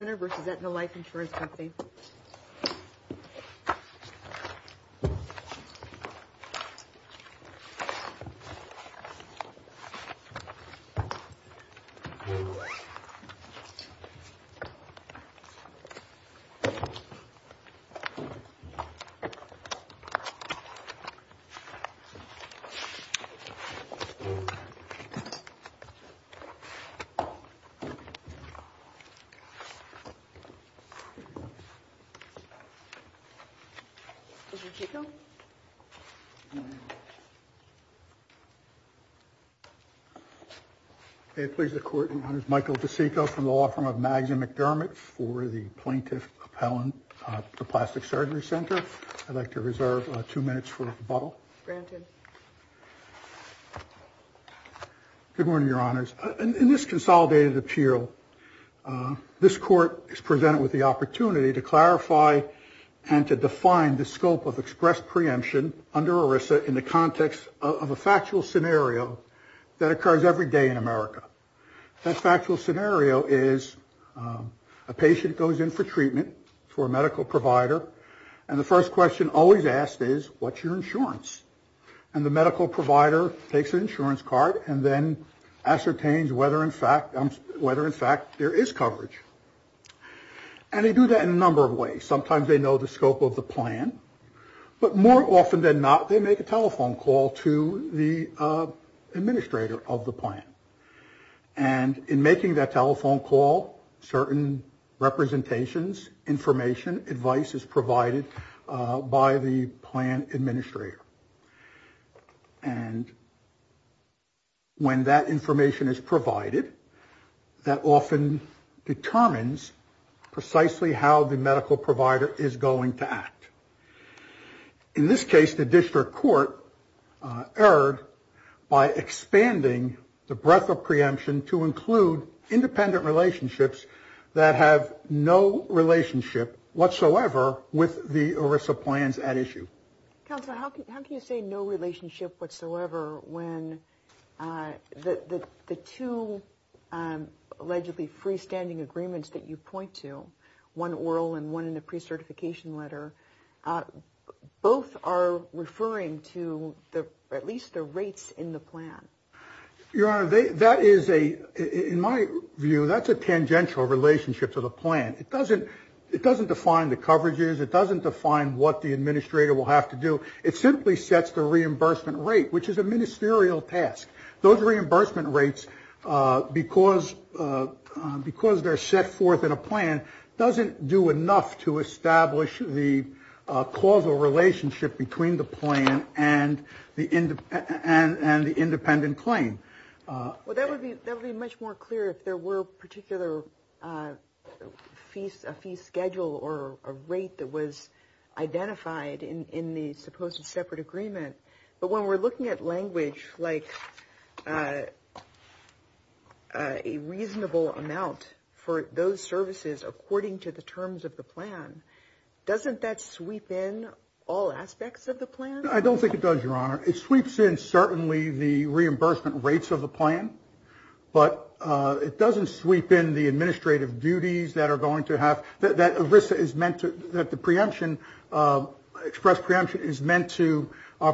Surgery Center PA v. Aetna Life Insurance Co Michael DeCicco from the law firm of Mags and McDermott for the plaintiff appellant to the Plastic Surgery Center. I'd like to reserve two minutes for rebuttal. Good morning, your honors. In this consolidated appeal, this court is presented with the opportunity to clarify and to define the scope of express preemption under ERISA in the context of a factual scenario that occurs every day in America. That factual scenario is a patient goes in for treatment for a medical provider, and the first question always asked is, what's your insurance? And the medical provider takes an insurance card and then ascertains whether in fact there is coverage. And they do that in a number of ways. Sometimes they know the scope of the plan. But more often than not, they make a telephone call to the administrator of the plan. And in making that telephone call, certain representations, information, advice is provided by the plan administrator. And when that information is provided, that often determines precisely how the medical provider is going to act. In this case, the district court erred by expanding the breadth of preemption to include independent relationships that have no relationship whatsoever with the ERISA plans at issue. Counselor, how can you say no relationship whatsoever when the two allegedly freestanding agreements that you point to, one oral and one in the pre-certification letter, both are referring to at least the rates in the plan? Your honor, that is a, in my view, that's a tangential relationship to the plan. It doesn't define the coverages. It doesn't define what the administrator will have to do. It simply sets the reimbursement rate, which is a ministerial task. Those reimbursement rates, because they're set forth in a plan, doesn't do enough to establish the causal relationship between the plan and the independent claim. Well, that would be much more clear if there were a particular fee schedule or a rate that was identified in the supposed separate agreement. But when we're looking at language like a reasonable amount for those services according to the terms of the plan, doesn't that sweep in all aspects of the plan? I don't think it does, your honor. It sweeps in certainly the reimbursement rates of the plan, but it doesn't sweep in the administrative duties that are going to have, that ERISA is meant to, that the preemption, express preemption is meant to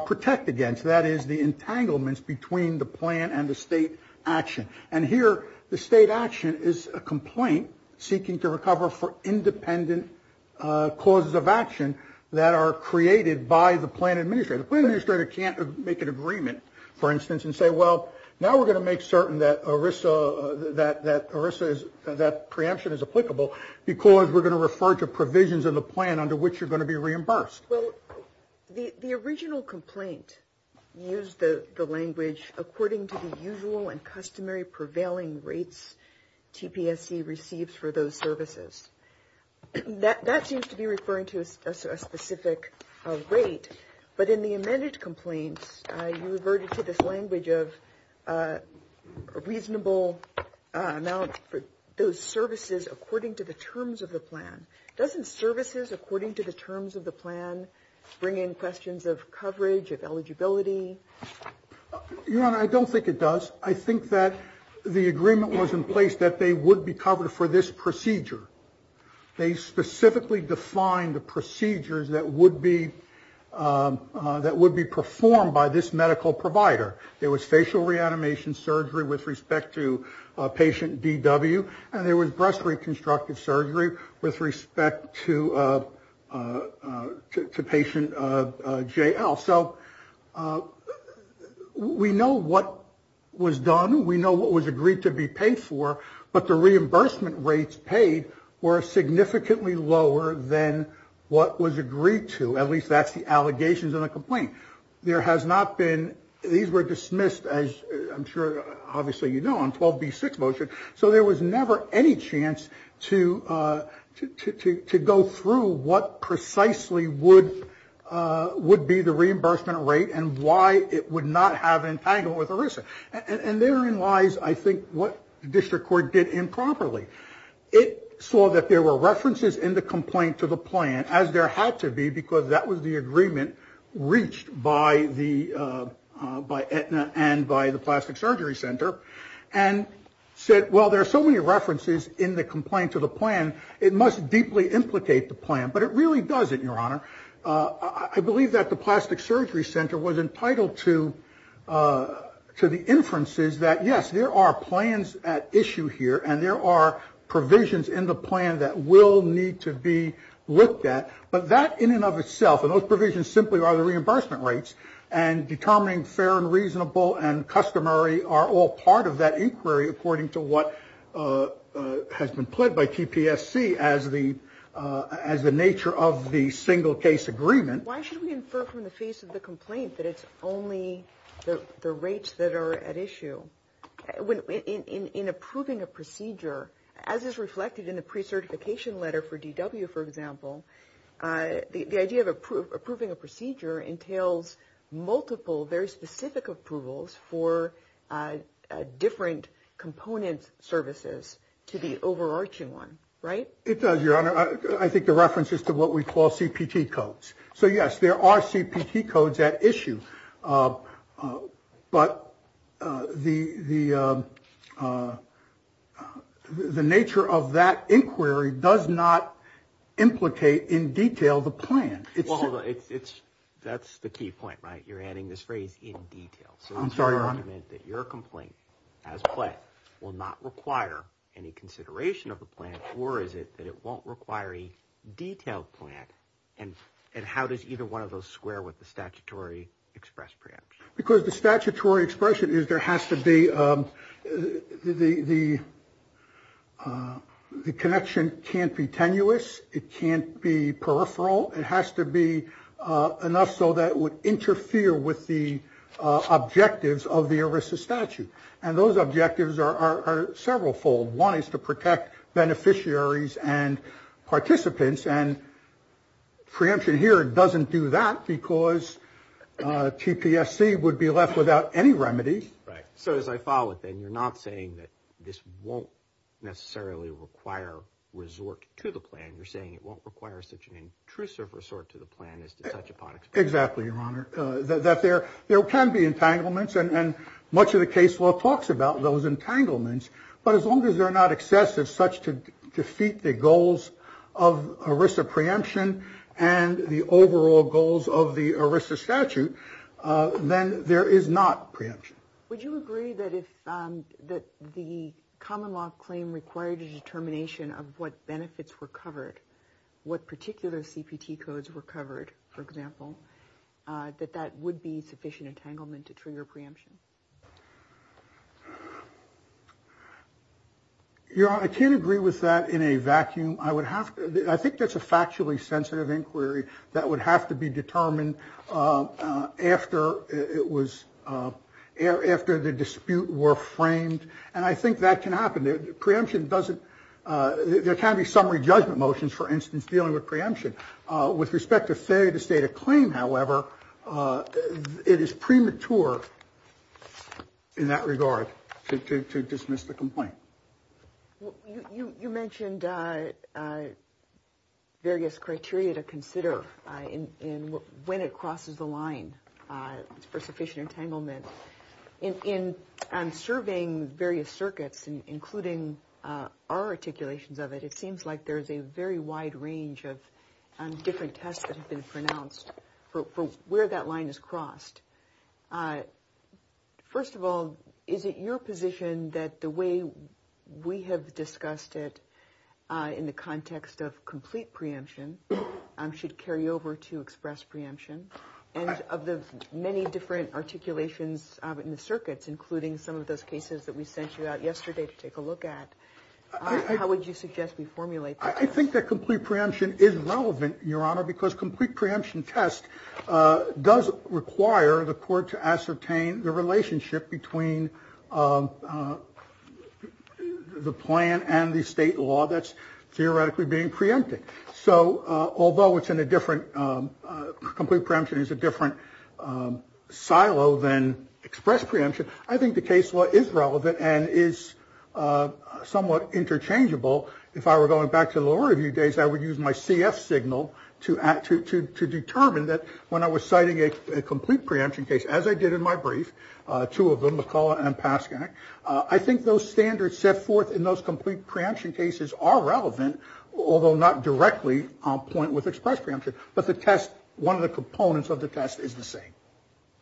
protect against. That is the entanglements between the plan and the state action. And here, the state action is a complaint seeking to recover for independent causes of action that are created by the plan administrator. The plan administrator can't make an agreement, for instance, and say, well, now we're going to make certain that ERISA, that preemption is applicable because we're going to refer to provisions in the plan under which you're going to be reimbursed. Well, the original complaint used the language according to the usual and customary prevailing rates TPSC receives for those services. That seems to be referring to a specific rate, but in the amended complaints, you reverted to this language of a reasonable amount for those services according to the terms of the plan. Doesn't services according to the terms of the plan bring in questions of coverage, of eligibility? Your Honor, I don't think it does. I think that the agreement was in place that they would be covered for this procedure. They specifically defined the procedures that would be performed by this medical provider. There was facial reanimation surgery with respect to patient DW, and there was breast reconstructive surgery with respect to patient JL. So we know what was done. We know what was agreed to be paid for, but the reimbursement rates paid were significantly lower than what was agreed to. At least that's the allegations in the complaint. These were dismissed, as I'm sure obviously you know, on 12B6 motion. So there was never any chance to go through what precisely would be the reimbursement rate and why it would not have an entanglement with ERISA. And therein lies, I think, what district court did improperly. It saw that there were references in the complaint to the plan, as there had to be, because that was the agreement reached by the, by Aetna and by the Plastic Surgery Center, and said, well, there are so many references in the complaint to the plan, it must deeply implicate the plan. But it really doesn't, Your Honor. I believe that the Plastic Surgery Center was entitled to the inferences that, yes, there are plans at issue here, and there are provisions in the plan that will need to be looked at. But that in and of itself, and those provisions simply are the reimbursement rates, and determining fair and reasonable and customary are all part of that inquiry, according to what has been pled by TPSC as the nature of the single case agreement. Why should we infer from the face of the complaint that it's only the rates that are at issue? In approving a procedure, as is reflected in the pre-certification letter for DW, for example, the idea of approving a procedure entails multiple, very specific approvals for different component services to the overarching one, right? It does, Your Honor. I think the reference is to what we call CPT codes. So, yes, there are CPT codes at issue, but the nature of that inquiry does not implicate in detail the plan. Well, hold on. That's the key point, right? You're adding this phrase in detail. I'm sorry, Your Honor. Your argument that your complaint as pled will not require any consideration of the plan, or is it that it won't require a detailed plan? And how does either one of those square with the statutory express preemption? Because the statutory expression is there has to be the connection can't be tenuous. It can't be peripheral. It has to be enough so that it would interfere with the objectives of the ERISA statute. And those objectives are several-fold. One is to protect beneficiaries and participants. And preemption here doesn't do that because TPSC would be left without any remedies. Right. So, as I follow it, then, you're not saying that this won't necessarily require resort to the plan. You're saying it won't require such an intrusive resort to the plan as to such a product. Exactly, Your Honor. That there can be entanglements, and much of the case law talks about those entanglements. But as long as they're not excessive such to defeat the goals of ERISA preemption and the overall goals of the ERISA statute, then there is not preemption. Would you agree that if the common law claim required a determination of what benefits were covered, what particular CPT codes were covered, for example, that that would be sufficient entanglement to trigger preemption? Your Honor, I can't agree with that in a vacuum. I think that's a factually sensitive inquiry that would have to be determined after the dispute were framed. And I think that can happen. There can be summary judgment motions, for instance, dealing with preemption. With respect to failure to state a claim, however, it is premature in that regard to dismiss the complaint. You mentioned various criteria to consider when it crosses the line for sufficient entanglement. In surveying various circuits, including our articulations of it, it seems like there's a very wide range of different tests that have been pronounced for where that line is crossed. First of all, is it your position that the way we have discussed it in the context of complete preemption should carry over to express preemption? And of the many different articulations in the circuits, including some of those cases that we sent you out yesterday to take a look at, how would you suggest we formulate this? I think that complete preemption is relevant, Your Honor, because complete preemption test does require the court to ascertain the relationship between the plan and the state law that's theoretically being preempted. Although complete preemption is a different silo than express preemption, I think the case law is relevant and is somewhat interchangeable. If I were going back to the lower review days, I would use my CF signal to determine that when I was citing a complete preemption case, as I did in my brief, two of them, McCulloch and Paskak, I think those standards set forth in those complete preemption cases are relevant, although not directly on point with express preemption. But the test, one of the components of the test, is the same.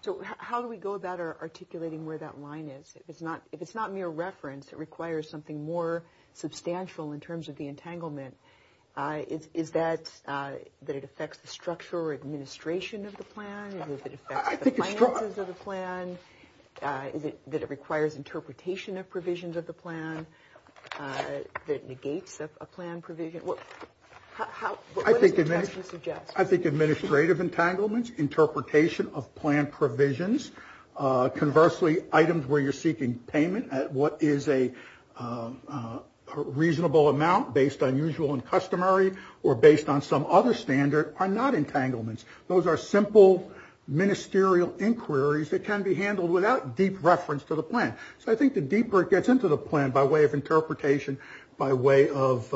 So how do we go about articulating where that line is? If it's not mere reference, it requires something more substantial in terms of the entanglement. Is that that it affects the structure or administration of the plan? Is it that it affects the finances of the plan? Is it that it requires interpretation of provisions of the plan? That it negates a plan provision? What does the test suggest? I think administrative entanglements, interpretation of plan provisions, conversely, items where you're seeking payment at what is a reasonable amount based on usual and customary or based on some other standard are not entanglements. Those are simple ministerial inquiries that can be handled without deep reference to the plan. So I think the deeper it gets into the plan by way of interpretation, by way of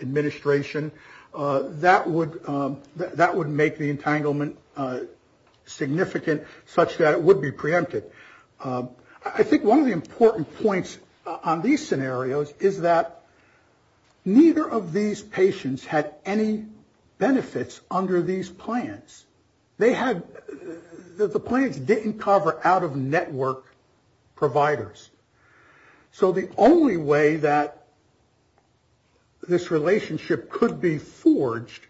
administration, that would make the entanglement significant, such that it would be preempted. I think one of the important points on these scenarios is that neither of these patients had any benefits under these plans. They had, the plans didn't cover out-of-network providers. So the only way that this relationship could be forged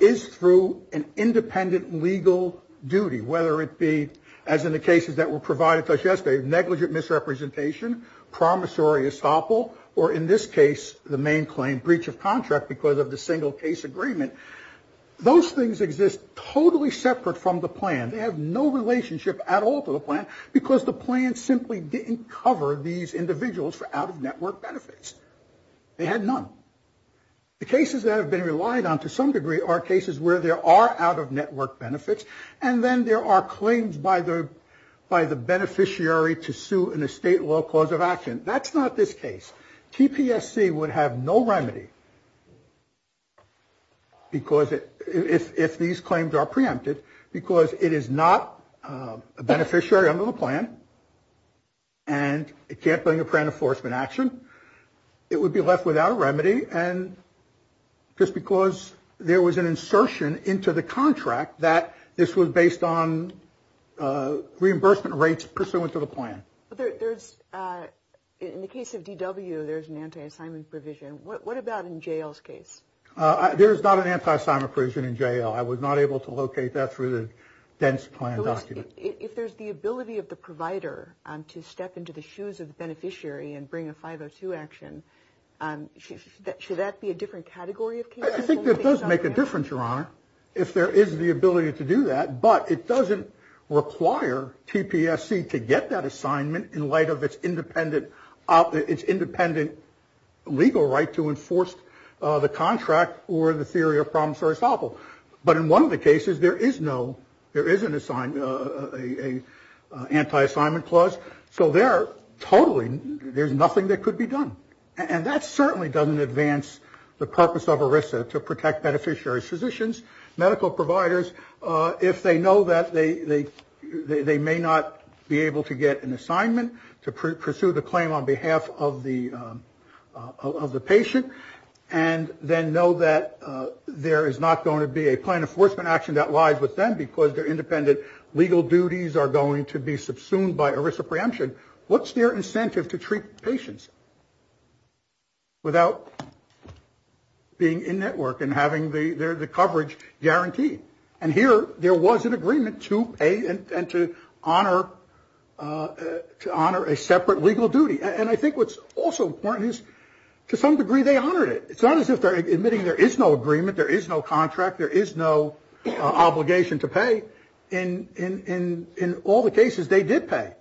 is through an independent legal duty, whether it be, as in the cases that were provided to us yesterday, negligent misrepresentation, promissory estoppel, or in this case, the main claim, breach of contract because of the single case agreement. Those things exist totally separate from the plan. They have no relationship at all to the plan because the plan simply didn't cover these individuals for out-of-network benefits. They had none. The cases that have been relied on to some degree are cases where there are out-of-network benefits and then there are claims by the beneficiary to sue in a state law cause of action. That's not this case. TPSC would have no remedy if these claims are preempted because it is not a beneficiary under the plan and it can't bring a preemptive enforcement action. It would be left without a remedy and just because there was an insertion into the contract that this was based on reimbursement rates pursuant to the plan. There's, in the case of DW, there's an anti-assignment provision. What about in JL's case? There's not an anti-assignment provision in JL. I was not able to locate that through the dense plan document. If there's the ability of the provider to step into the shoes of the beneficiary and bring a 502 action, should that be a different category of case? I think it does make a difference, Your Honor, if there is the ability to do that but it doesn't require TPSC to get that assignment in light of its independent legal right to enforce the contract or the theory of problem-solving. But in one of the cases, there is an anti-assignment clause so there, totally, there's nothing that could be done. And that certainly doesn't advance the purpose of ERISA to protect beneficiary's physicians, medical providers, if they know that they may not be able to get an assignment to pursue the claim on behalf of the patient and then know that there is not going to be a plan enforcement action that lies with them because their independent legal duties are going to be subsumed by ERISA preemption. What's their incentive to treat patients without being in network and having the coverage guaranteed? And here, there was an agreement to honor a separate legal duty. And I think what's also important is, to some degree, they honored it. It's not as if they're admitting there is no agreement, there is no contract, there is no obligation to pay. In all the cases, they did pay,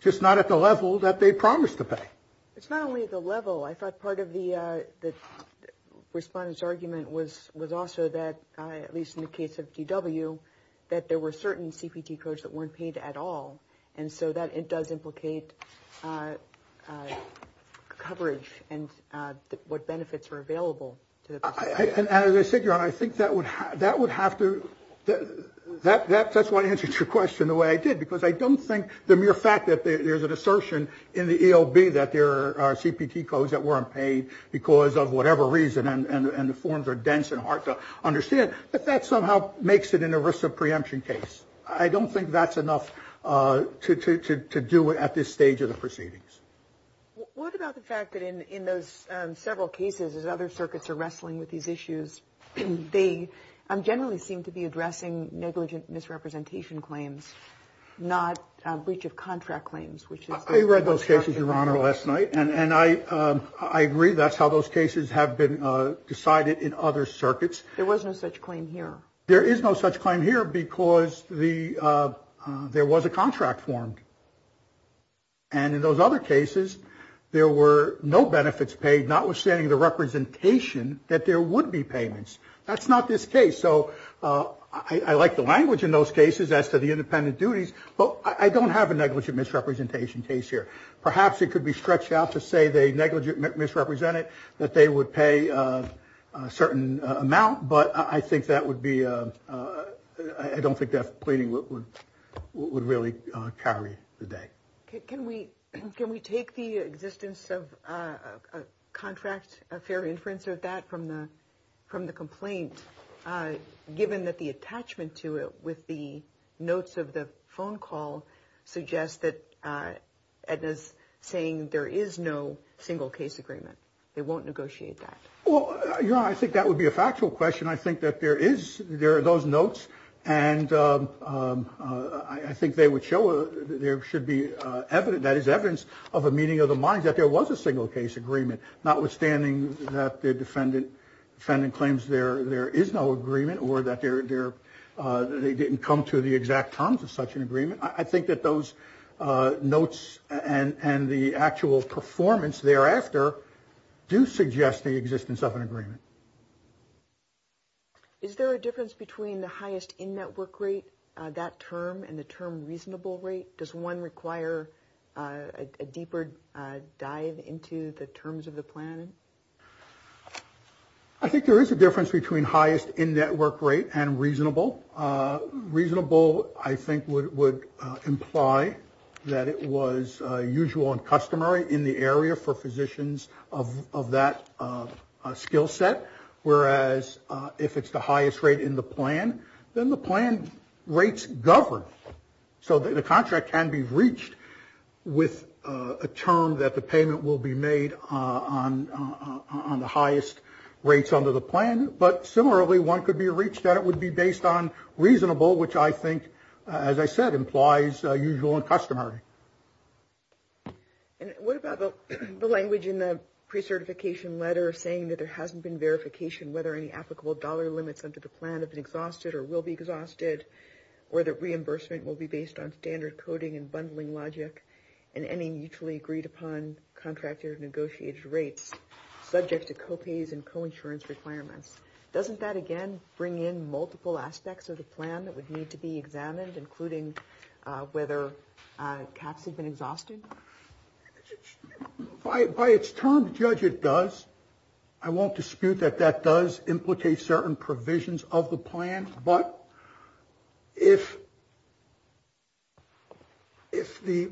just not at the level that they promised to pay. It's not only the level. I thought part of the respondent's argument was also that, at least in the case of DW, that there were certain CPT codes that weren't paid at all. And so that, it does implicate coverage and what benefits are available to the person. And as I said, Your Honor, I think that would have to, that's why I answered your question the way I did because I don't think the mere fact that there's an assertion in the ELB that there are CPT codes that weren't paid because of whatever reason and the forms are dense and hard to understand, that that somehow makes it an ERISA preemption case. I don't think that's enough to do at this stage of the proceedings. What about the fact that in those several cases as other circuits are wrestling with these issues, they generally seem to be addressing negligent misrepresentation claims, not breach of contract claims? I read those cases, Your Honor, last night. And I agree that's how those cases have been decided in other circuits. There was no such claim here. There is no such claim here because there was a contract formed. And in those other cases, there were no benefits paid notwithstanding the representation that there would be payments. That's not this case. So I like the language in those cases as to the independent duties, but I don't have a negligent misrepresentation case here. Perhaps it could be stretched out to say they negligent misrepresented that they would pay a certain amount, but I think that would be, I don't think that pleading would really carry the day. Can we take the existence of a contract, a fair inference of that from the complaint given that the attachment to it with the notes of the phone call suggests that Edna's saying there is no single case agreement. They won't negotiate that. Well, Your Honor, I think that would be a factual question. I think that there are those notes and I think they would show that there should be evidence, that is evidence of a meeting of the mind that there was a single case agreement notwithstanding that the defendant claims there is no agreement or that they didn't come to the exact terms of such an agreement. I think that those notes and the actual performance thereafter do suggest the existence of an agreement. Is there a difference between the highest in-network rate, that term, and the term reasonable rate? Does one require a deeper dive into the terms of the plan? I think there is a difference between highest in-network rate and reasonable. Reasonable, I think, would imply that it was usual and customary in the area for physicians of that skill set, whereas if it's the highest rate in the plan, then the plan rates govern. So the contract can be reached with a term that the payment will be made on the highest rates under the plan, but similarly, one could be reached that it would be based on reasonable, which I think, as I said, implies usual and customary. And what about the language in the precertification letter saying that there hasn't been verification whether any applicable dollar limits under the plan have been exhausted or will be exhausted, or that reimbursement will be based on standard coding and bundling logic and any mutually agreed upon contracted or negotiated rates subject to co-pays and co-insurance requirements? Doesn't that, again, bring in multiple aspects of the plan that would need to be examined, including whether caps had been exhausted? By its term, judge it does. I won't dispute that that does implicate certain provisions of the plan, but if the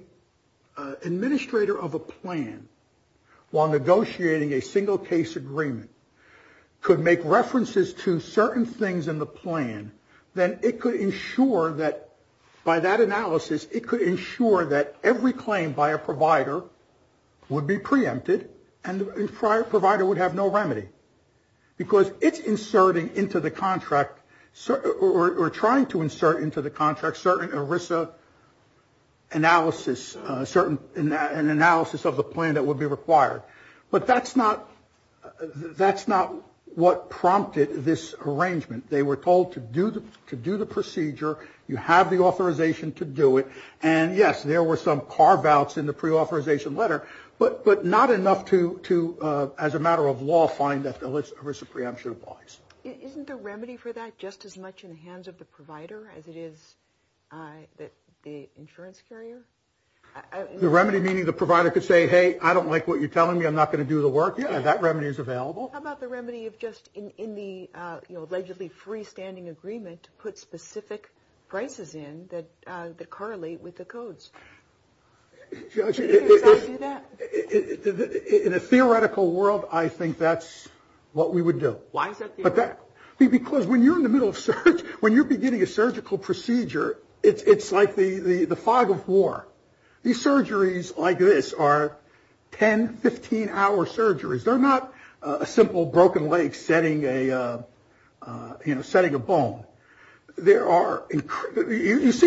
administrator of a plan, while negotiating a single-case agreement, could make references to certain things in the plan, then it could ensure that, by that analysis, it could ensure that every claim by a provider would be preempted and the provider would have no remedy because it's inserting into the contract, or trying to insert into the contract, certain ERISA analysis, an analysis of the plan that would be required. But that's not what prompted this arrangement. They were told to do the procedure. You have the authorization to do it. And, yes, there were some carve-outs in the preauthorization letter, but not enough to, as a matter of law, find that the ERISA preemption applies. Isn't the remedy for that just as much in the hands of the provider as it is the insurance carrier? The remedy meaning the provider could say, hey, I don't like what you're telling me. I'm not going to do the work. Yeah, that remedy is available. How about the remedy of just, in the allegedly freestanding agreement, to put specific prices in that correlate with the codes? Does that do that? In a theoretical world, I think that's what we would do. Why is that theoretical? Because when you're in the middle of surgery, when you're beginning a surgical procedure, it's like the fog of war. These surgeries like this are 10, 15-hour surgeries. They're not a simple broken leg setting a bone. You see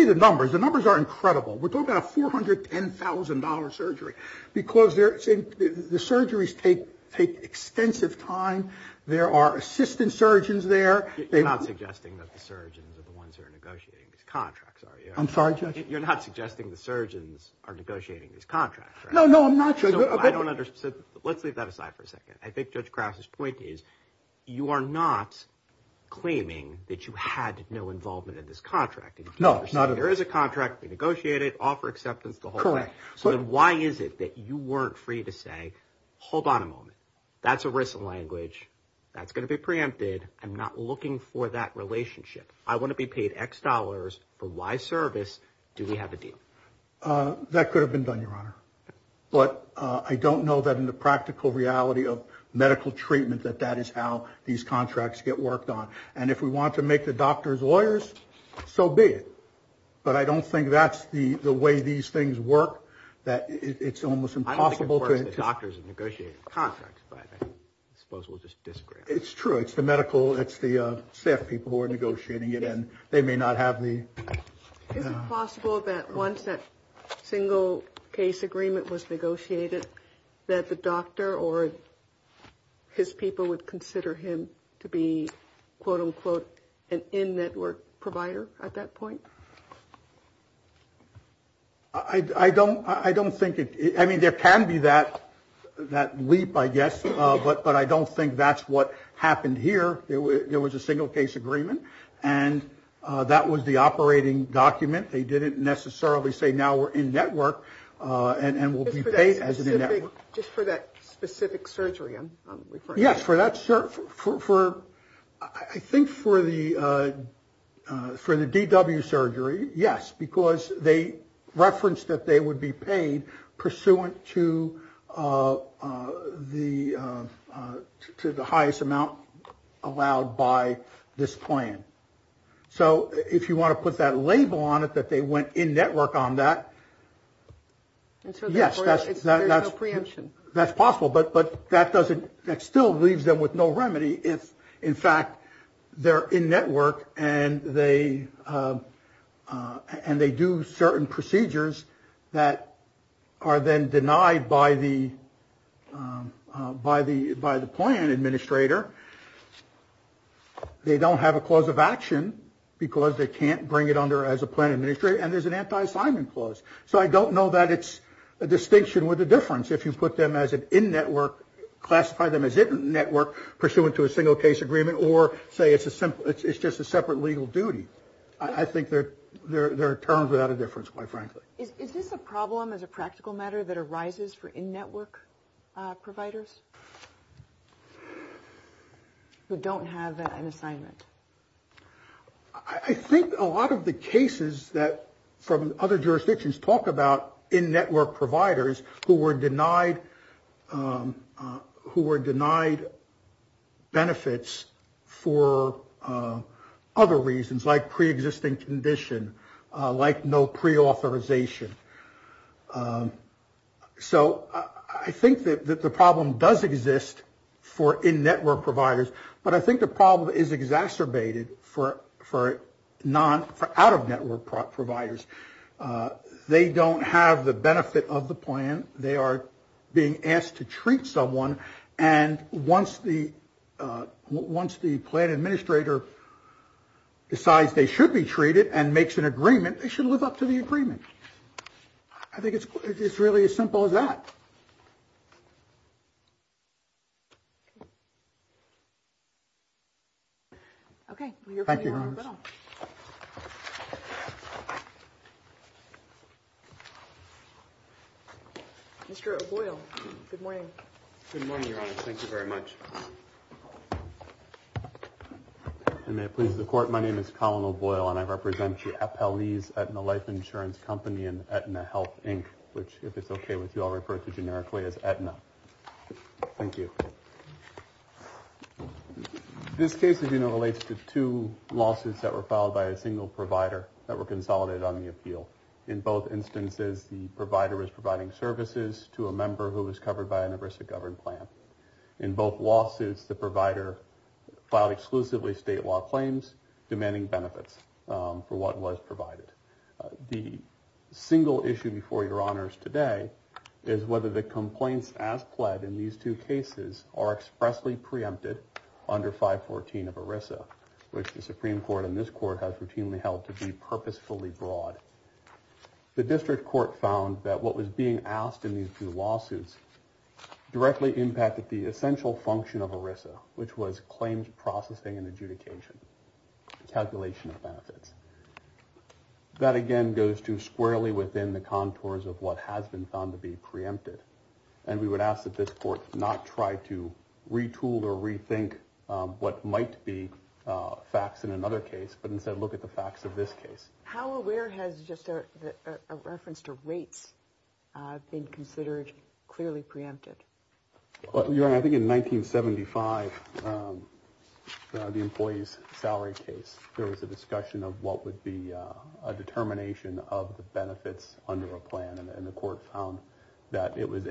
the numbers. The numbers are incredible. We're talking about a $410,000 surgery because the surgeries take extensive time. There are assistant surgeons there. You're not suggesting that the surgeons are the ones who are negotiating these contracts, are you? I'm sorry, Judge? You're not suggesting the surgeons are negotiating these contracts, right? No, no, I'm not, Judge. Let's leave that aside for a second. I think Judge Krause's point is, you are not claiming that you had no involvement in this contract. No, not at all. There is a contract. We negotiated, offer acceptance, the whole thing. So then why is it that you weren't free to say, hold on a moment. That's a written language. That's going to be preempted. I'm not looking for that relationship. Do we have a deal? That could have been done, Your Honor. But I don't know that in the practical reality of medical treatment that that is how these contracts get worked on. And if we want to make the doctors lawyers, so be it. But I don't think that's the way these things work, that it's almost impossible to... I don't think, of course, the doctors are negotiating the contracts, but I suppose we'll just disagree on that. It's true. It's the medical, it's the staff people who are negotiating it, and they may not have the... Is it possible that once that single case agreement was negotiated, that the doctor or his people would consider him to be, quote, unquote, an in-network provider at that point? I don't think it... I mean, there can be that leap, I guess, but I don't think that's what happened here. There was a single case agreement, and that was the operating document. They didn't necessarily say, now we're in-network and we'll be paid as in-network. Just for that specific surgery I'm referring to? Yes, for that... I think for the DW surgery, yes, because they referenced that they would be paid pursuant to the highest amount allowed by this plan. So if you want to put that label on it, that they went in-network on that... Yes, that's... There's no preemption. That's possible, but that doesn't... That still leaves them with no remedy if, in fact, they're in-network and they... and they do certain procedures that are then denied by the plan administrator. They don't have a clause of action because they can't bring it under as a plan administrator, and there's an anti-assignment clause. So I don't know that it's a distinction with a difference if you put them as an in-network, classify them as in-network, pursuant to a single case agreement, or say it's just a separate legal duty. I think there are terms without a difference, quite frankly. Is this a problem as a practical matter that arises for in-network providers who don't have an assignment? I think a lot of the cases that... from other jurisdictions talk about in-network providers who were denied benefits for other reasons, like pre-existing condition, like no pre-authorization. So I think that the problem does exist for in-network providers, but I think the problem is exacerbated for out-of-network providers. They don't have the benefit of the plan. They are being asked to treat someone, and once the plan administrator decides they should be treated and makes an agreement, they should live up to the agreement. I think it's really as simple as that. Okay. Thank you, Your Honor. Mr. O'Boyle, good morning. Good morning, Your Honor. Thank you very much. And may it please the Court, my name is Colin O'Boyle, and I represent the FLE's Aetna Life Insurance Company and Aetna Health, Inc., which, if it's okay with you, I'll refer to generically as Aetna. Thank you. This case, as you know, relates to two lawsuits that were filed by a single provider that were consolidated on the appeal. In both instances, the provider was providing services to a member who was covered by an ERISA-governed plan. In both lawsuits, the provider filed exclusively state law claims, demanding benefits for what was provided. The single issue before Your Honors today is whether the complaints as pled in these two cases are expressly preempted under 514 of ERISA, which the Supreme Court and this Court have routinely held to be purposefully broad. The District Court found that what was being asked in these two lawsuits directly impacted the essential function of ERISA, which was claims processing and adjudication, calculation of benefits. That, again, goes too squarely within the contours of what has been found to be preempted, and we would ask that this Court not try to retool or rethink what might be facts in another case, but instead look at the facts of this case. How aware has just a reference to rates been considered clearly preempted? Your Honor, I think in 1975, the employee's salary case, there was a discussion of what would be a determination of the benefits under a plan, and the Court found that it was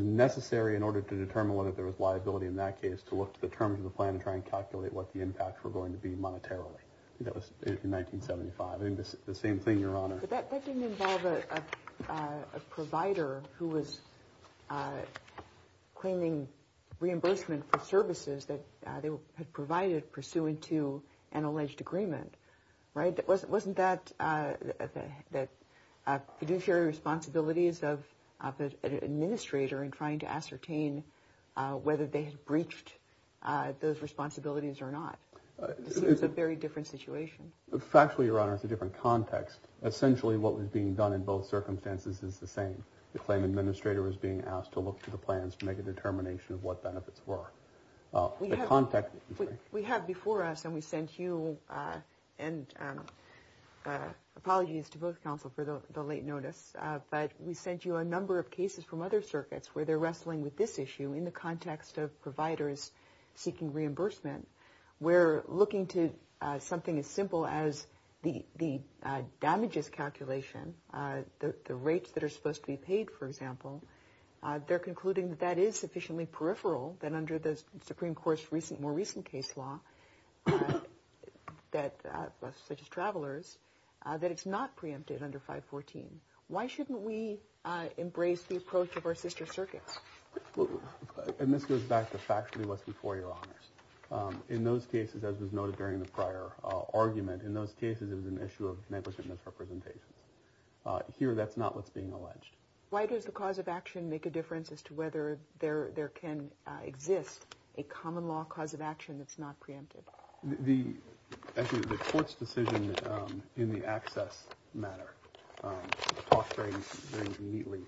necessary in order to determine whether there was liability in that case to look to the terms of the plan and try and calculate what the impacts were going to be monetarily. I think that was in 1975. I think the same thing, Your Honor. But that didn't involve a provider who was claiming reimbursement for services that they had provided pursuant to an alleged agreement, right? Wasn't that fiduciary responsibilities of an administrator in trying to ascertain whether they had breached those responsibilities or not? It's a very different situation. Factually, Your Honor, it's a different context. Essentially, what was being done in both circumstances is the same. The claim administrator was being asked to look to the plans to make a determination of what benefits were. We have before us, and we sent you, and apologies to both counsel for the late notice, but we sent you a number of cases from other circuits where they're wrestling with this issue in the context of providers seeking reimbursement where looking to something as simple as the damages calculation, the rates that are supposed to be paid, for example, they're concluding that that is sufficiently peripheral that under the Supreme Court's more recent case law, such as travelers, that it's not preempted under 514. Why shouldn't we embrace the approach of our sister circuits? In those cases, as was noted during the prior argument, in those cases it was an issue of negligent misrepresentations. Here, that's not what's being alleged. Why does the cause of action make a difference as to whether there can exist a common law cause of action that's not preempted? Actually, the Court's decision in the access matter talks very neatly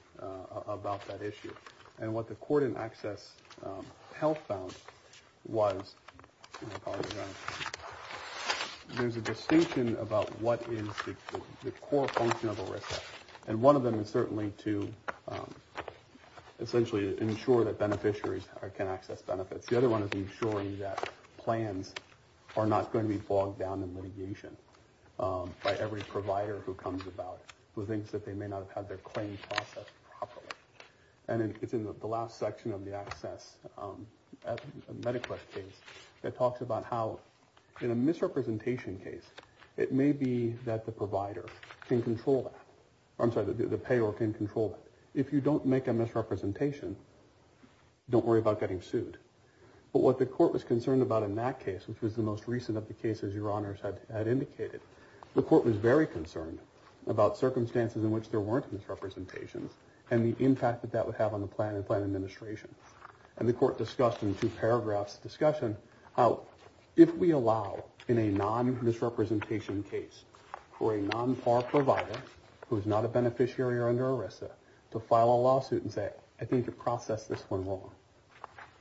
about that issue. And what the Court in access help found was, and I apologize for that, there's a distinction about what is the core function of a risk. And one of them is certainly to essentially ensure that beneficiaries can access benefits. The other one is ensuring that plans are not going to be bogged down in litigation by every provider who comes about who thinks that they may not have had their claim processed properly. And it's in the last section of the access case that talks about how in a misrepresentation case, it may be that the provider can control that. I'm sorry, the payor can control that. If you don't make a misrepresentation, don't worry about getting sued. But what the Court was concerned about in that case, which was the most recent of the cases Your Honors had indicated, the Court was very concerned about circumstances in which there weren't misrepresentations and the impact that that would have on the plan and plan administration. And the Court discussed in two paragraphs the discussion how if we allow in a non-misrepresentation case for a non-PAR provider who is not a beneficiary or under ERISA to file a lawsuit and say, I think you've processed this one wrong,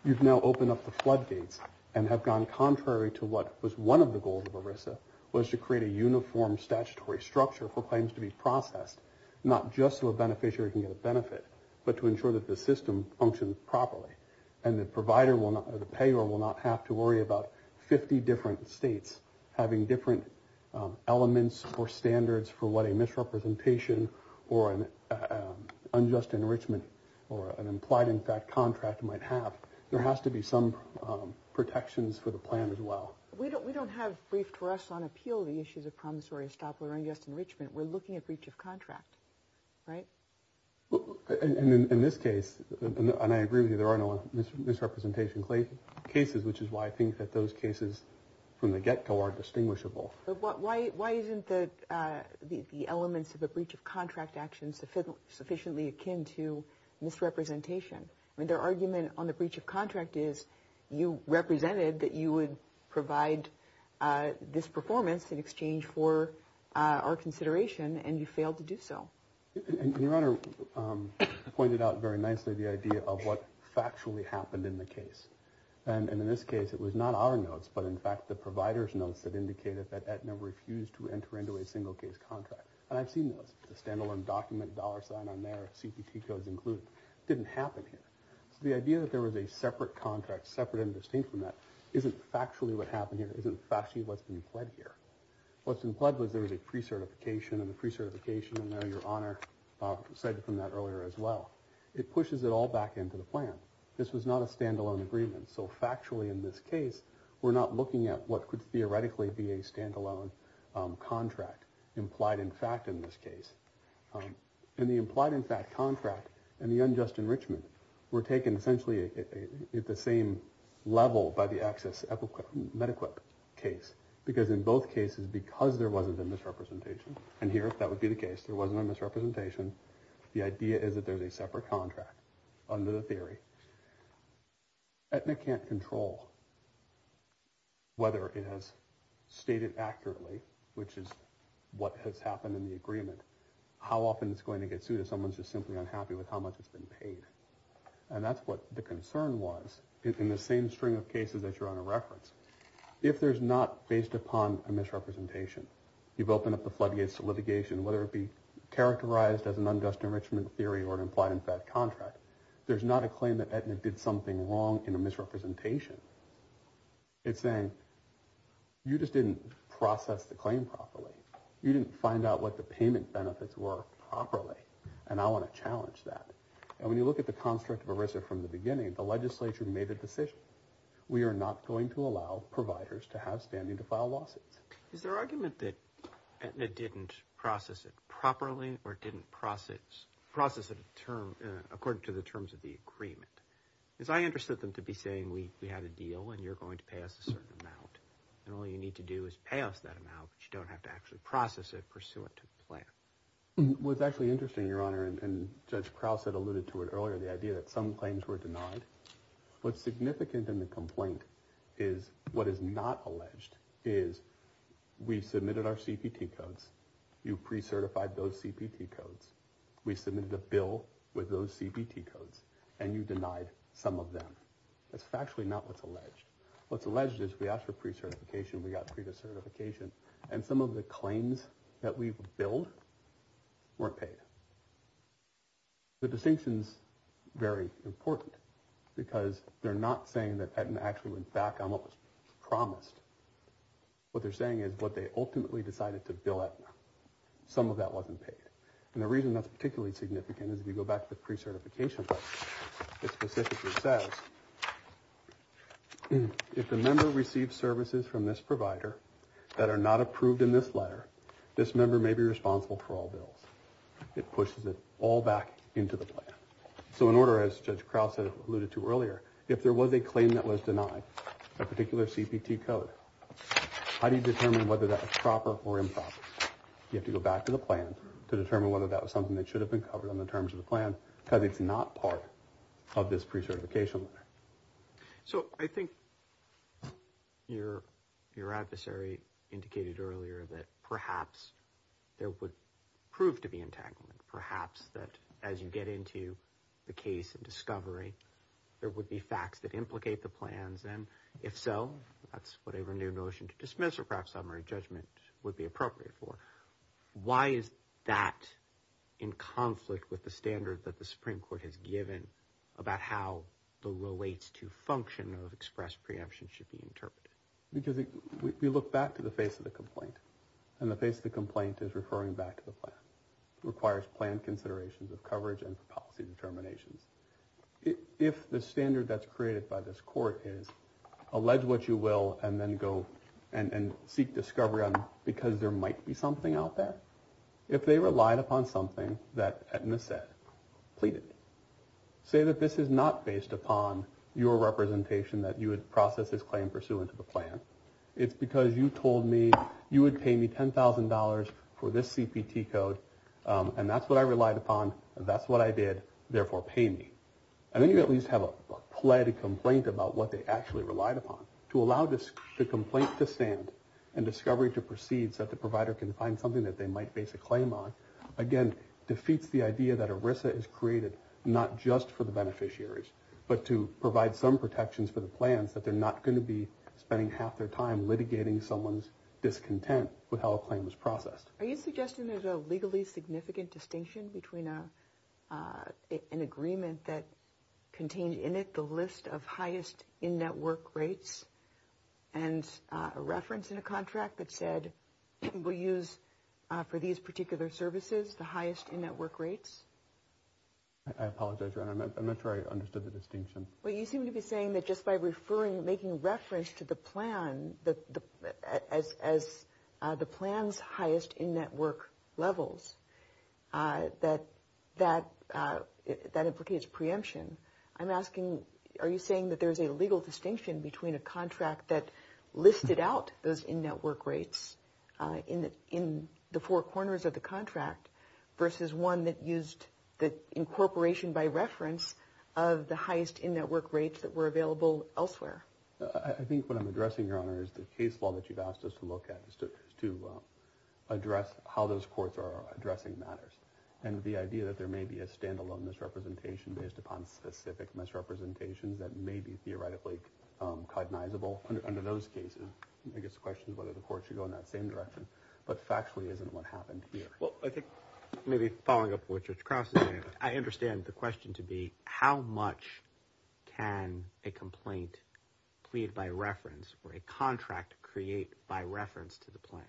you've now opened up the floodgates and have gone contrary to what was one of the goals of ERISA, was to create a uniform statutory structure for claims to be processed, not just so a beneficiary can get a benefit, but to ensure that the system functions properly and the payor will not have to worry about 50 different states having different elements or standards for what a misrepresentation or an unjust enrichment or an implied-in-fact contract might have. There has to be some protections for the plan as well. We don't have briefed trusts on appeal the issues of promissory estoppel or unjust enrichment. We're looking at breach of contract, right? And in this case, and I agree with you, there are no misrepresentation cases, which is why I think that those cases from the get-go are distinguishable. But why isn't the elements of a breach of contract action sufficiently akin to misrepresentation? I mean, their argument on the breach of contract is you represented that you would provide this performance in exchange for our consideration, and you failed to do so. And Your Honor pointed out very nicely the idea of what factually happened in the case. And in this case, it was not our notes, but in fact the provider's notes that indicated that Aetna refused to enter into a single-case contract. And I've seen those, the standalone document, dollar sign on there, CPT codes included. It didn't happen here. So the idea that there was a separate contract, separate and distinct from that, isn't factually what happened here, isn't factually what's been pled here. What's been pled was there was a pre-certification, and the pre-certification, and I know Your Honor said from that earlier as well, it pushes it all back into the plan. This was not a standalone agreement. So factually in this case, we're not looking at what could theoretically be a standalone contract implied in fact in this case. And the implied in fact contract and the unjust enrichment were taken essentially at the same level by the access medequip case. Because in both cases, because there wasn't a misrepresentation, and here that would be the case, there wasn't a misrepresentation, the idea is that there's a separate contract under the theory. Aetna can't control whether it has stated accurately, which is what has happened in the agreement, how often it's going to get sued if someone's just simply unhappy with how much it's been paid. And that's what the concern was. In the same string of cases that Your Honor referenced, if there's not based upon a misrepresentation, you've opened up the floodgates to litigation, whether it be characterized as an unjust enrichment theory or an implied in fact contract, there's not a claim that Aetna did something wrong in a misrepresentation. It's saying, you just didn't process the claim properly. You didn't find out what the payment benefits were properly, and I want to challenge that. And when you look at the construct of ERISA from the beginning, the legislature made a decision. We are not going to allow providers to have standing to file lawsuits. Is there argument that Aetna didn't process it properly or didn't process it according to the terms of the agreement? Because I understood them to be saying, we had a deal and you're going to pay us a certain amount, and all you need to do is pay us that amount, but you don't have to actually process it pursuant to the plan. What's actually interesting, Your Honor, and Judge Krause had alluded to it earlier, the idea that some claims were denied. What's significant in the complaint is what is not alleged, is we submitted our CPT codes, you pre-certified those CPT codes, we submitted a bill with those CPT codes, and you denied some of them. That's factually not what's alleged. What's alleged is we asked for pre-certification, we got pre-certification, and some of the claims that we've billed weren't paid. The distinction's very important because they're not saying that Aetna actually went back on what was promised. What they're saying is what they ultimately decided to bill Aetna, some of that wasn't paid. And the reason that's particularly significant is, if you go back to the pre-certification part, it specifically says, if the member receives services from this provider that are not approved in this letter, this member may be responsible for all bills. It pushes it all back into the plan. So in order, as Judge Krause alluded to earlier, if there was a claim that was denied, a particular CPT code, how do you determine whether that was proper or improper? You have to go back to the plan to determine whether that was something that should have been covered on the terms of the plan because it's not part of this pre-certification letter. So I think your adversary indicated earlier that perhaps there would prove to be entanglement, perhaps that as you get into the case and discovery, there would be facts that implicate the plans, and if so, that's what a renewed notion to dismiss or perhaps summary judgment would be appropriate for. Why is that in conflict with the standard that the Supreme Court has given about how the relates to function of express preemption should be interpreted? Because we look back to the face of the complaint, and the face of the complaint is referring back to the plan. It requires plan considerations of coverage and policy determinations. If the standard that's created by this court is, allege what you will and then go and seek discovery because there might be something out there, if they relied upon something that Edna said, pleaded. Say that this is not based upon your representation that you would process this claim pursuant to the plan. It's because you told me you would pay me $10,000 for this CPT code, and that's what I relied upon, and that's what I did. Therefore, pay me. And then you at least have a pled complaint about what they actually relied upon. To allow the complaint to stand and discovery to proceed so that the provider can find something that they might base a claim on, again, defeats the idea that ERISA is created not just for the beneficiaries, but to provide some protections for the plans that they're not going to be spending half their time litigating someone's discontent with how a claim was processed. Are you suggesting there's a legally significant distinction between an agreement that contained in it the list of highest in-network rates and a reference in a contract that said, we'll use for these particular services the highest in-network rates? I apologize, I'm not sure I understood the distinction. Well, you seem to be saying that just by referring, that that implicates preemption. I'm asking, are you saying that there's a legal distinction between a contract that listed out those in-network rates in the four corners of the contract versus one that used the incorporation by reference of the highest in-network rates that were available elsewhere? I think what I'm addressing, Your Honor, is the case law that you've asked us to look at to address how those courts are addressing matters. And the idea that there may be a standalone misrepresentation based upon specific misrepresentations that may be theoretically cognizable under those cases, I guess the question is whether the court should go in that same direction, but factually isn't what happened here. Well, I think maybe following up what Judge Cross is saying, I understand the question to be, how much can a complaint plead by reference or a contract create by reference to the plan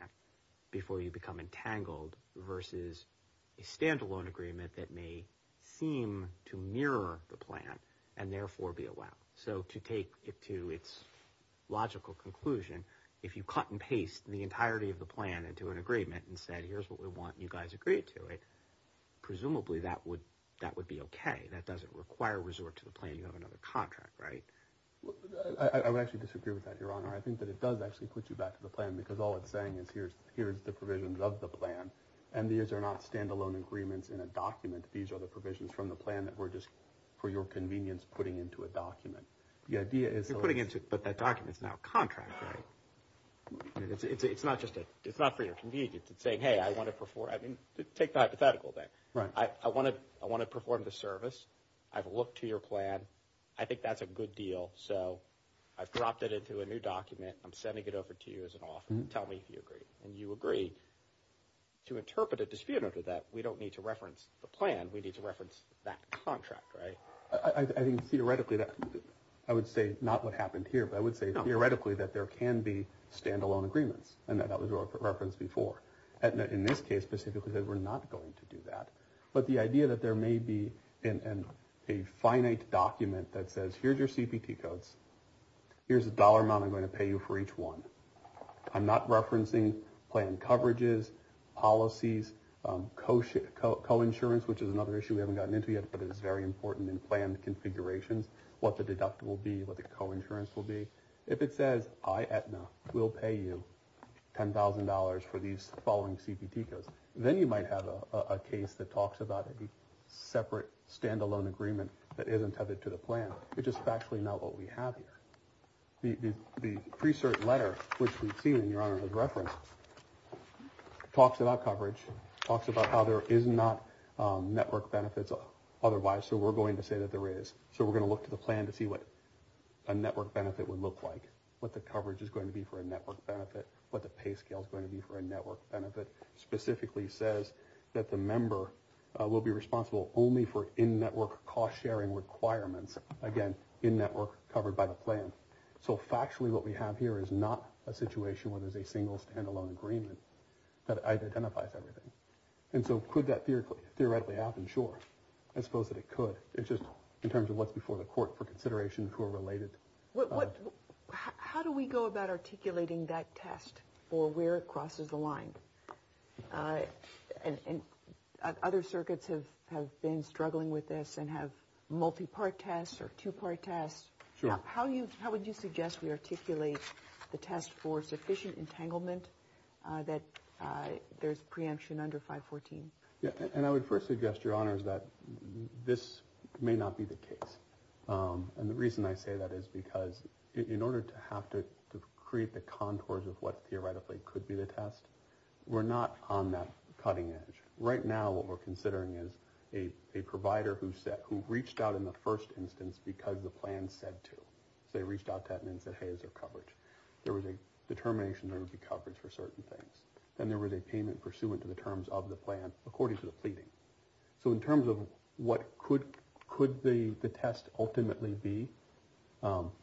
before you become entangled versus a standalone agreement that may seem to mirror the plan and therefore be allowed? So to take it to its logical conclusion, if you cut and paste the entirety of the plan into an agreement and said, here's what we want and you guys agree to it, presumably that would be okay. That doesn't require resort to the plan. You have another contract, right? I would actually disagree with that, Your Honor. I think that it does actually put you back to the plan because all it's saying is here's the provisions of the plan and these are not standalone agreements in a document. These are the provisions from the plan that we're just, for your convenience, putting into a document. You're putting into it, but that document is now a contract, right? It's not for your convenience. It's saying, hey, I want to perform. I mean, take the hypothetical then. I want to perform the service. I've looked to your plan. I think that's a good deal, so I've dropped it into a new document. I'm sending it over to you as an offer. Tell me if you agree. And you agree. To interpret a dispute under that, we don't need to reference the plan. We need to reference that contract, right? I think theoretically, I would say not what happened here, but I would say theoretically that there can be standalone agreements and that was referenced before. In this case specifically, we're not going to do that. But the idea that there may be a finite document that says, here's your CPT codes. Here's the dollar amount I'm going to pay you for each one. I'm not referencing plan coverages, policies, co-insurance, which is another issue we haven't gotten into yet, but it is very important in plan configurations, what the deductible will be, what the co-insurance will be. If it says, I, Aetna, will pay you $10,000 for these following CPT codes, then you might have a case that talks about a separate standalone agreement that isn't tethered to the plan, which is factually not what we have here. The pre-cert letter, which we've seen, Your Honor, as referenced, talks about coverage, talks about how there is not network benefits otherwise, so we're going to say that there is. So we're going to look to the plan to see what a network benefit would look like, what the coverage is going to be for a network benefit, what the pay scale is going to be for a network benefit. It specifically says that the member will be responsible only for in-network cost-sharing requirements, again, in-network covered by the plan. So factually what we have here is not a situation where there's a single standalone agreement that identifies everything. And so could that theoretically happen? Sure, I suppose that it could. It's just in terms of what's before the court for consideration who are related. How do we go about articulating that test for where it crosses the line? Other circuits have been struggling with this and have multi-part tests or two-part tests. How would you suggest we articulate the test for sufficient entanglement that there's preemption under 514? I would first suggest, Your Honor, that this may not be the case. And the reason I say that is because in order to have to create the contours of what theoretically could be the test, we're not on that cutting edge. Right now what we're considering is a provider who reached out in the first instance because the plan said to. So they reached out to them and said, hey, here's our coverage. There was a determination there would be coverage for certain things. Then there was a payment pursuant to the terms of the plan according to the pleading. So in terms of what could the test ultimately be,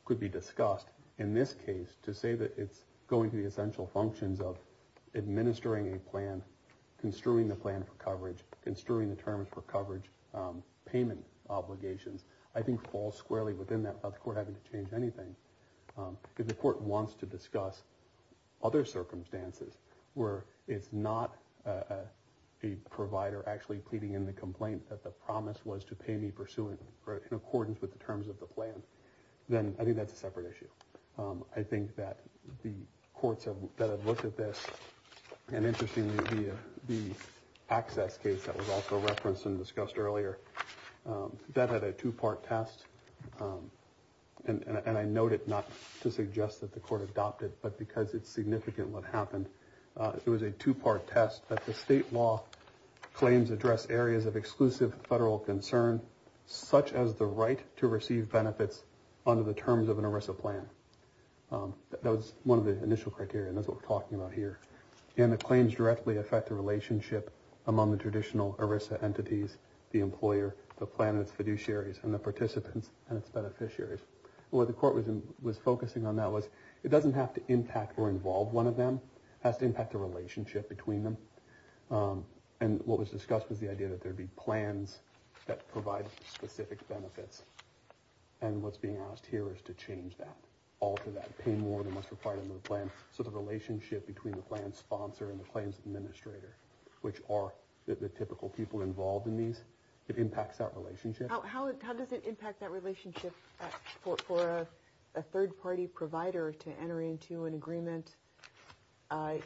could be discussed, in this case, to say that it's going to the essential functions of administering a plan, construing the plan for coverage, construing the terms for coverage, payment obligations, I think falls squarely within that without the court having to change anything because the court wants to discuss other circumstances where it's not a provider actually pleading in the complaint that the promise was to pay me pursuant, in accordance with the terms of the plan, then I think that's a separate issue. I think that the courts that have looked at this, and interestingly the access case that was also referenced and discussed earlier, that had a two-part test. And I note it not to suggest that the court adopted, but because it's significant what happened. It was a two-part test that the state law claims address areas of exclusive federal concern, such as the right to receive benefits under the terms of an ERISA plan. That was one of the initial criteria, and that's what we're talking about here. And the claims directly affect the relationship among the traditional ERISA entities, the employer, the plan and its fiduciaries, and the participants and its beneficiaries. What the court was focusing on that was, it doesn't have to impact or involve one of them. It has to impact the relationship between them. And what was discussed was the idea that there would be plans that provide specific benefits. And what's being asked here is to change that, alter that, pay more than what's required under the plan. So the relationship between the plan sponsor and the claims administrator, which are the typical people involved in these, it impacts that relationship. How does it impact that relationship for a third-party provider to enter into an agreement?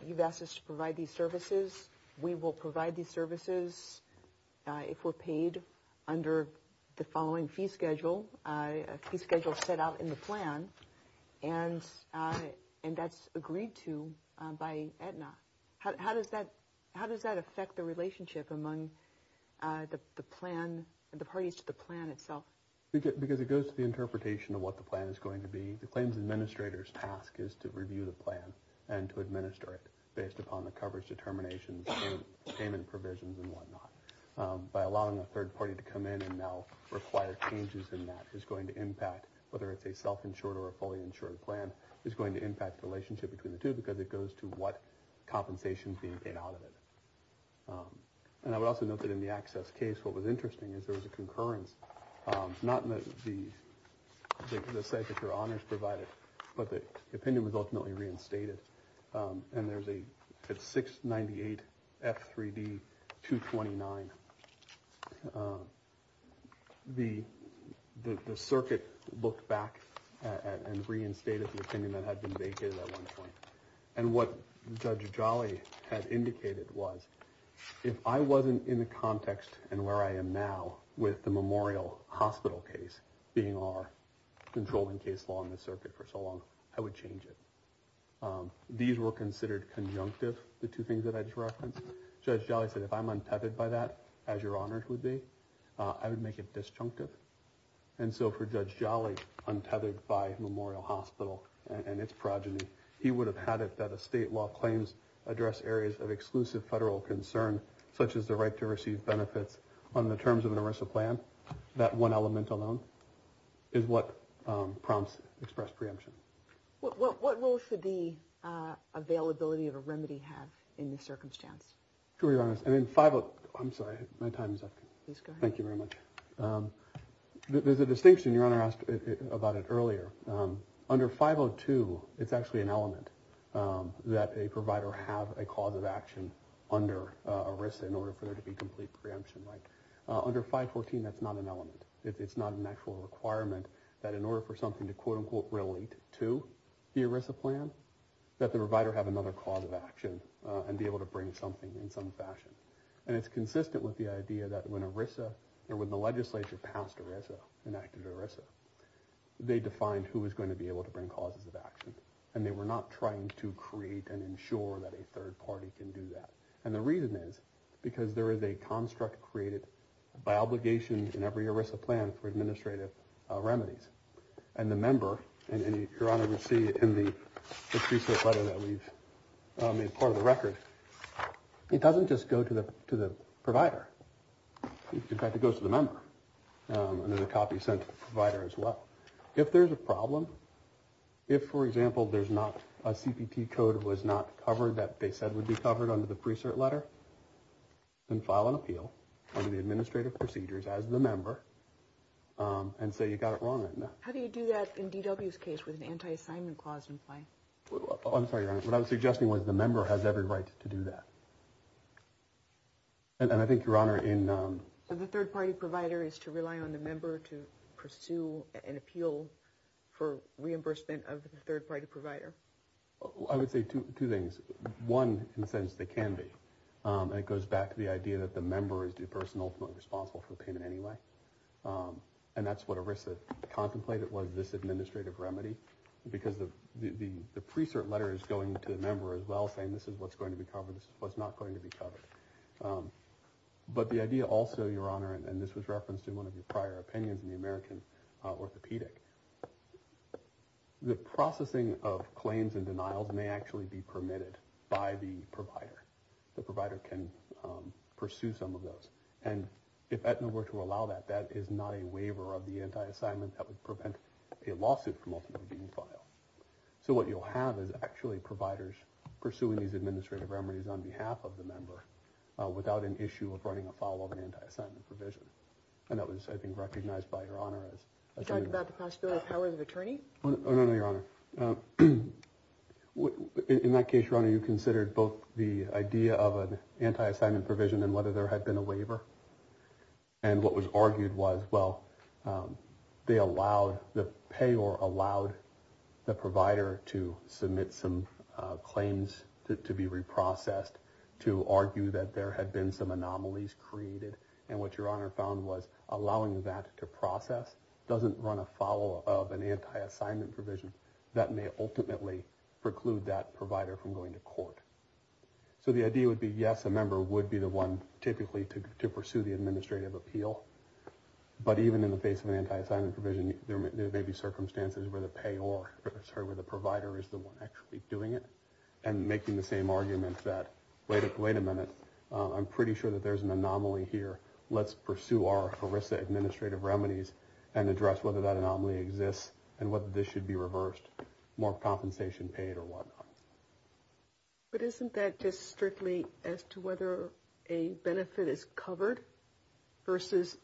You've asked us to provide these services. We will provide these services if we're paid under the following fee schedule, a fee schedule set out in the plan, and that's agreed to by Aetna. How does that affect the relationship among the parties to the plan itself? Because it goes to the interpretation of what the plan is going to be. The claims administrator's task is to review the plan and to administer it based upon the coverage determinations, payment provisions and whatnot. By allowing a third party to come in and now require changes in that is going to impact, whether it's a self-insured or a fully insured plan, is going to impact the relationship between the two because it goes to what compensation is being paid out of it. And I would also note that in the access case, what was interesting is there was a concurrence, not in the site that your honors provided, but the opinion was ultimately reinstated. And there's a 698F3D229. The circuit looked back and reinstated the opinion that had been vacated at one point. And what Judge Jolly had indicated was if I wasn't in the context and where I am now with the Memorial Hospital case being our controlling case law in the circuit for so long, I would change it. These were considered conjunctive, the two things that I just referenced. Judge Jolly said if I'm untethered by that, as your honors would be, I would make it disjunctive. And so for Judge Jolly, untethered by Memorial Hospital and its progeny, he would have had it that a state law claims address areas of exclusive federal concern, such as the right to receive benefits on the terms of an ERISA plan. That one element alone is what prompts express preemption. What role should the availability of a remedy have in this circumstance? I'm sorry, my time is up. Thank you very much. There's a distinction your honor asked about it earlier. Under 502, it's actually an element that a provider have a cause of action under ERISA in order for there to be complete preemption. Under 514, that's not an element. It's not an actual requirement that in order for something to quote-unquote relate to the ERISA plan, that the provider have another cause of action and be able to bring something in some fashion. And it's consistent with the idea that when ERISA, or when the legislature passed ERISA, enacted ERISA, they defined who was going to be able to bring causes of action. And they were not trying to create and ensure that a third party can do that. And the reason is because there is a construct created by obligation in every ERISA plan for administrative remedies. And the member, and your honor will see in the pre-cert letter that we've made part of the record, it doesn't just go to the provider. In fact, it goes to the member. And there's a copy sent to the provider as well. If there's a problem, if, for example, there's not a CPT code that was not covered that they said would be covered under the pre-cert letter, then file an appeal under the administrative procedures as the member and say you got it wrong on that. How do you do that in DW's case with an anti-assignment clause in play? I'm sorry, your honor. What I was suggesting was the member has every right to do that. And I think, your honor, in... So the third party provider is to rely on the member to pursue an appeal for reimbursement of the third party provider? I would say two things. One, in a sense, they can be. And it goes back to the idea that the member is the person ultimately responsible for the payment anyway. And that's what ERISA contemplated was this administrative remedy because the pre-cert letter is going to the member as well, saying this is what's going to be covered, this is what's not going to be covered. But the idea also, your honor, and this was referenced in one of your prior opinions in the American Orthopedic, the processing of claims and denials may actually be permitted by the provider. The provider can pursue some of those. And if Aetna were to allow that, that is not a waiver of the anti-assignment that would prevent a lawsuit from ultimately being filed. So what you'll have is actually providers pursuing these administrative remedies on behalf of the member without an issue of writing a file of an anti-assignment provision. And that was, I think, recognized by your honor as... You talked about the possibility of powers of attorney? Oh, no, no, your honor. In that case, your honor, you considered both the idea of an anti-assignment provision and whether there had been a waiver. And what was argued was, well, they allowed, the payor allowed the provider to submit some claims to be reprocessed, to argue that there had been some anomalies created. And what your honor found was allowing that to process doesn't run a follow of an anti-assignment provision that may ultimately preclude that provider from going to court. So the idea would be, yes, a member would be the one typically to pursue the administrative appeal. But even in the face of an anti-assignment provision, there may be circumstances where the payor, sorry, where the provider is the one actually doing it and making the same argument that, wait a minute, I'm pretty sure that there's an anomaly here. Let's pursue our ERISA administrative remedies and address whether that anomaly exists and whether this should be reversed, more compensation paid or whatnot. But isn't that just strictly as to whether a benefit is covered versus,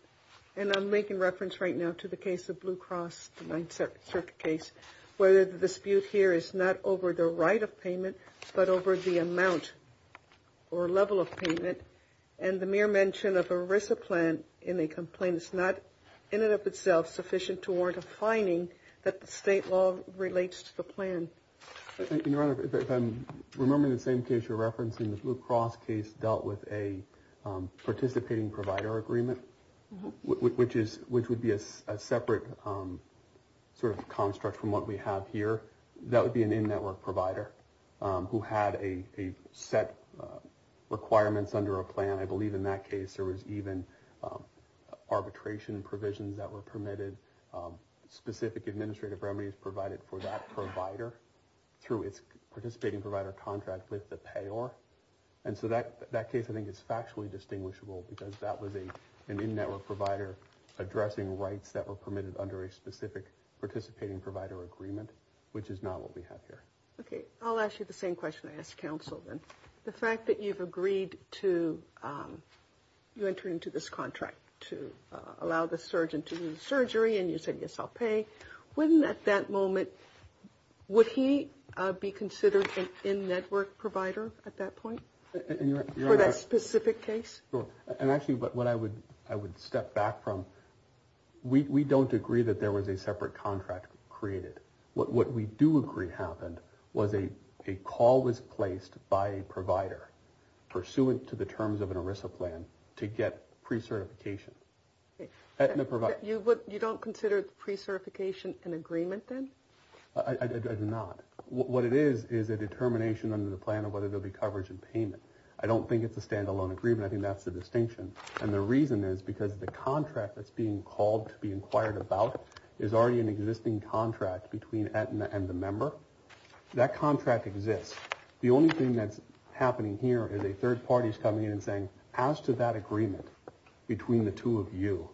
and I'm making reference right now to the case of Blue Cross, the 9th Circuit case, whether the dispute here is not over the right of payment, but over the amount or level of payment. And the mere mention of ERISA plan in a complaint is not, in and of itself, sufficient to warrant a fining that the state law relates to the plan. If I'm remembering the same case you're referencing, the Blue Cross case dealt with a participating provider agreement, which would be a separate sort of construct from what we have here. That would be an in-network provider who had a set of requirements under a plan. I believe in that case there was even arbitration provisions that were permitted, specific administrative remedies provided for that provider through its participating provider contract with the payer. And so that case I think is factually distinguishable because that was an in-network provider addressing rights that were permitted under a specific participating provider agreement, which is not what we have here. Okay, I'll ask you the same question I asked counsel then. The fact that you've agreed to enter into this contract to allow the surgeon to do the surgery and you said, yes, I'll pay, wouldn't at that moment, would he be considered an in-network provider at that point for that specific case? And actually what I would step back from, we don't agree that there was a separate contract created. What we do agree happened was a call was placed by a provider pursuant to the terms of an ERISA plan to get pre-certification. You don't consider pre-certification an agreement then? I do not. What it is is a determination under the plan of whether there will be coverage and payment. I don't think it's a standalone agreement. I think that's the distinction. And the reason is because the contract that's being called to be inquired about is already an existing contract between Aetna and the member. That contract exists. The only thing that's happening here is a third party is coming in and saying, as to that agreement between the two of you,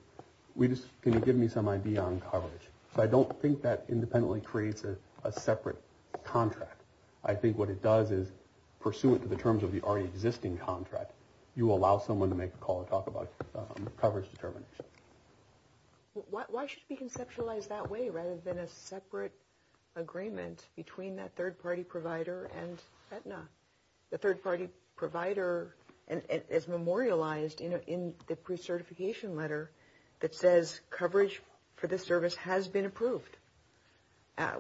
can you give me some idea on coverage? So I don't think that independently creates a separate contract. I think what it does is pursuant to the terms of the already existing contract, you allow someone to make a call to talk about coverage determination. Why should it be conceptualized that way rather than a separate agreement between that third party provider and Aetna? The third party provider is memorialized in the pre-certification letter that says, coverage for this service has been approved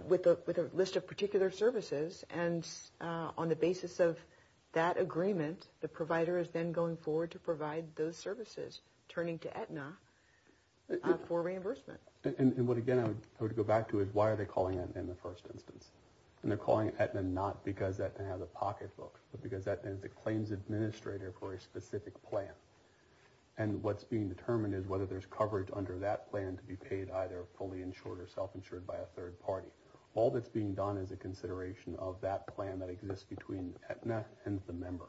with a list of particular services. And on the basis of that agreement, the provider is then going forward to provide those services, turning to Aetna for reimbursement. And what, again, I would go back to is why are they calling Aetna in the first instance? And they're calling Aetna not because Aetna has a pocketbook, but because Aetna is the claims administrator for a specific plan. And what's being determined is whether there's coverage under that plan to be paid either fully insured or self-insured by a third party. All that's being done is a consideration of that plan that exists between Aetna and the member.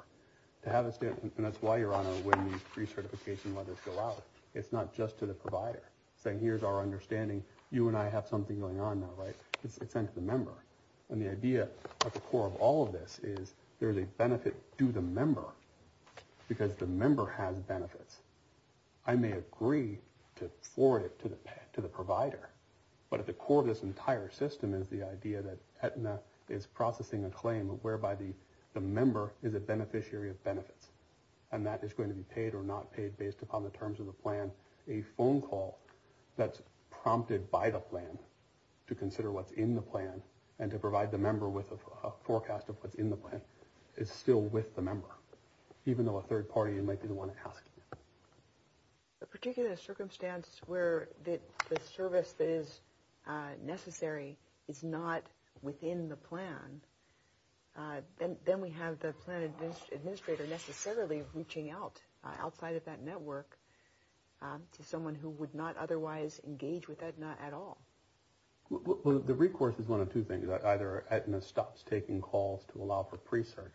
And that's why, Your Honor, when these pre-certification letters go out, it's not just to the provider saying, here's our understanding. You and I have something going on now, right? It's sent to the member. And the idea at the core of all of this is there's a benefit to the member because the member has benefits. I may agree to forward it to the provider, but at the core of this entire system is the idea that Aetna is processing a claim whereby the member is a beneficiary of benefits, and that is going to be paid or not paid based upon the terms of the plan. A phone call that's prompted by the plan to consider what's in the plan and to provide the member with a forecast of what's in the plan is still with the member, even though a third party might be the one asking it. A particular circumstance where the service that is necessary is not within the plan, then we have the plan administrator necessarily reaching out outside of that network to someone who would not otherwise engage with Aetna at all. The recourse is one of two things. Either Aetna stops taking calls to allow for pre-cert,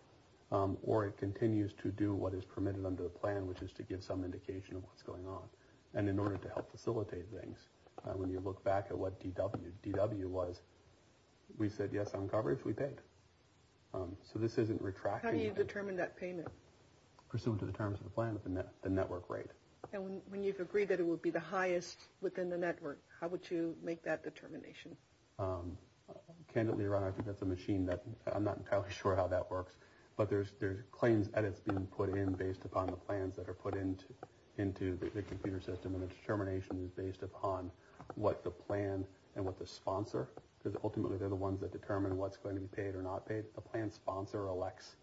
or it continues to do what is permitted under the plan, which is to give some indication of what's going on. And in order to help facilitate things, when you look back at what DW was, we said, yes, on coverage, we paid. So this isn't retracting. How do you determine that payment? Pursuant to the terms of the plan at the network rate. And when you've agreed that it would be the highest within the network, how would you make that determination? Candidly, Ron, I think that's a machine. I'm not entirely sure how that works, but there's claims edits being put in based upon the plans that are put into the computer system, and the determination is based upon what the plan and what the sponsor, because ultimately they're the ones that determine what's going to be paid or not paid. The plan sponsor elects,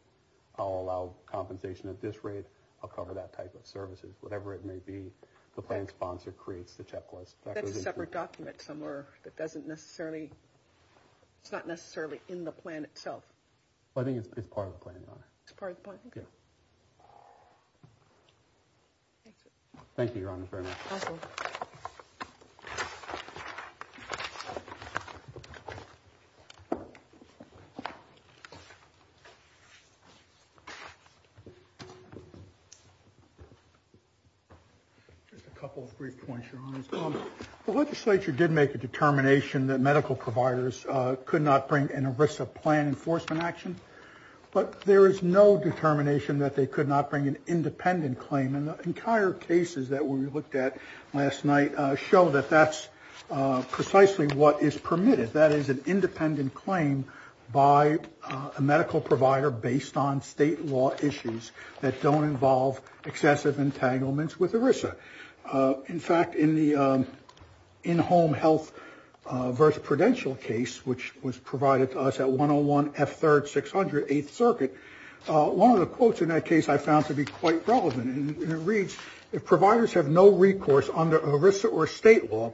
I'll allow compensation at this rate, I'll cover that type of services. Whatever it may be, the plan sponsor creates the checklist. That's a separate document somewhere that doesn't necessarily, it's not necessarily in the plan itself. I think it's part of the plan, Your Honor. It's part of the plan? Yeah. Thank you, Your Honor. Just a couple of brief points, Your Honor. The legislature did make a determination that medical providers could not bring in a risk of plan enforcement action, but there is no determination that they could not bring an independent claim, and the entire cases that we looked at last night show that that's precisely what is permitted. That is an independent claim by a medical provider based on state law issues that don't involve excessive entanglements with ERISA. In fact, in the in-home health versus prudential case, which was provided to us at 101 F3rd 600 8th Circuit, one of the quotes in that case I found to be quite relevant, and it reads, if providers have no recourse under ERISA or state law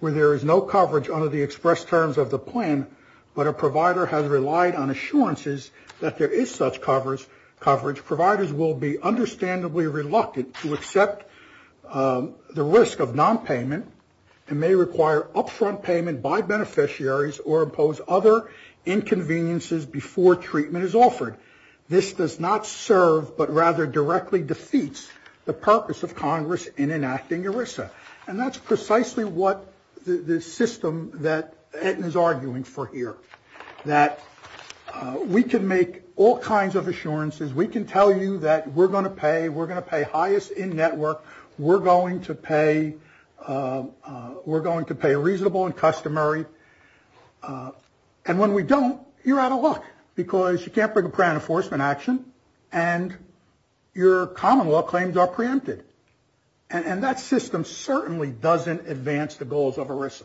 where there is no coverage under the express terms of the plan, but a provider has relied on assurances that there is such coverage, providers will be understandably reluctant to accept the risk of nonpayment and may require upfront payment by beneficiaries or impose other inconveniences before treatment is offered. This does not serve but rather directly defeats the purpose of Congress in enacting ERISA, and that's precisely what the system that Ettin is arguing for here, that we can make all kinds of assurances. We can tell you that we're going to pay. We're going to pay highest in network. We're going to pay reasonable and customary. And when we don't, you're out of luck because you can't bring a prior enforcement action, and your common law claims are preempted. And that system certainly doesn't advance the goals of ERISA.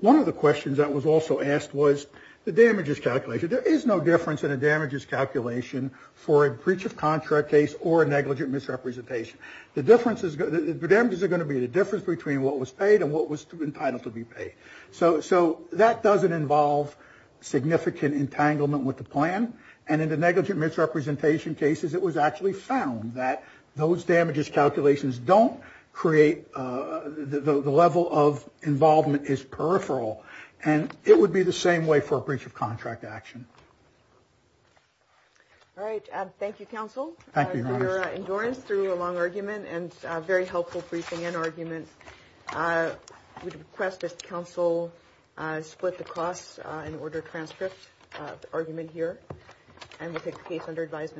One of the questions that was also asked was the damages calculation. There is no difference in a damages calculation for a breach of contract case or a negligent misrepresentation. The damages are going to be the difference between what was paid and what was entitled to be paid. So that doesn't involve significant entanglement with the plan. And in the negligent misrepresentation cases, it was actually found that those damages calculations don't create the level of involvement is peripheral, and it would be the same way for a breach of contract action. All right. Thank you, counsel. Thank you, Your Honor. Your endurance through a long argument and a very helpful briefing and argument. We request that counsel split the costs and order transcripts of the argument here, and we'll take the case under advisement.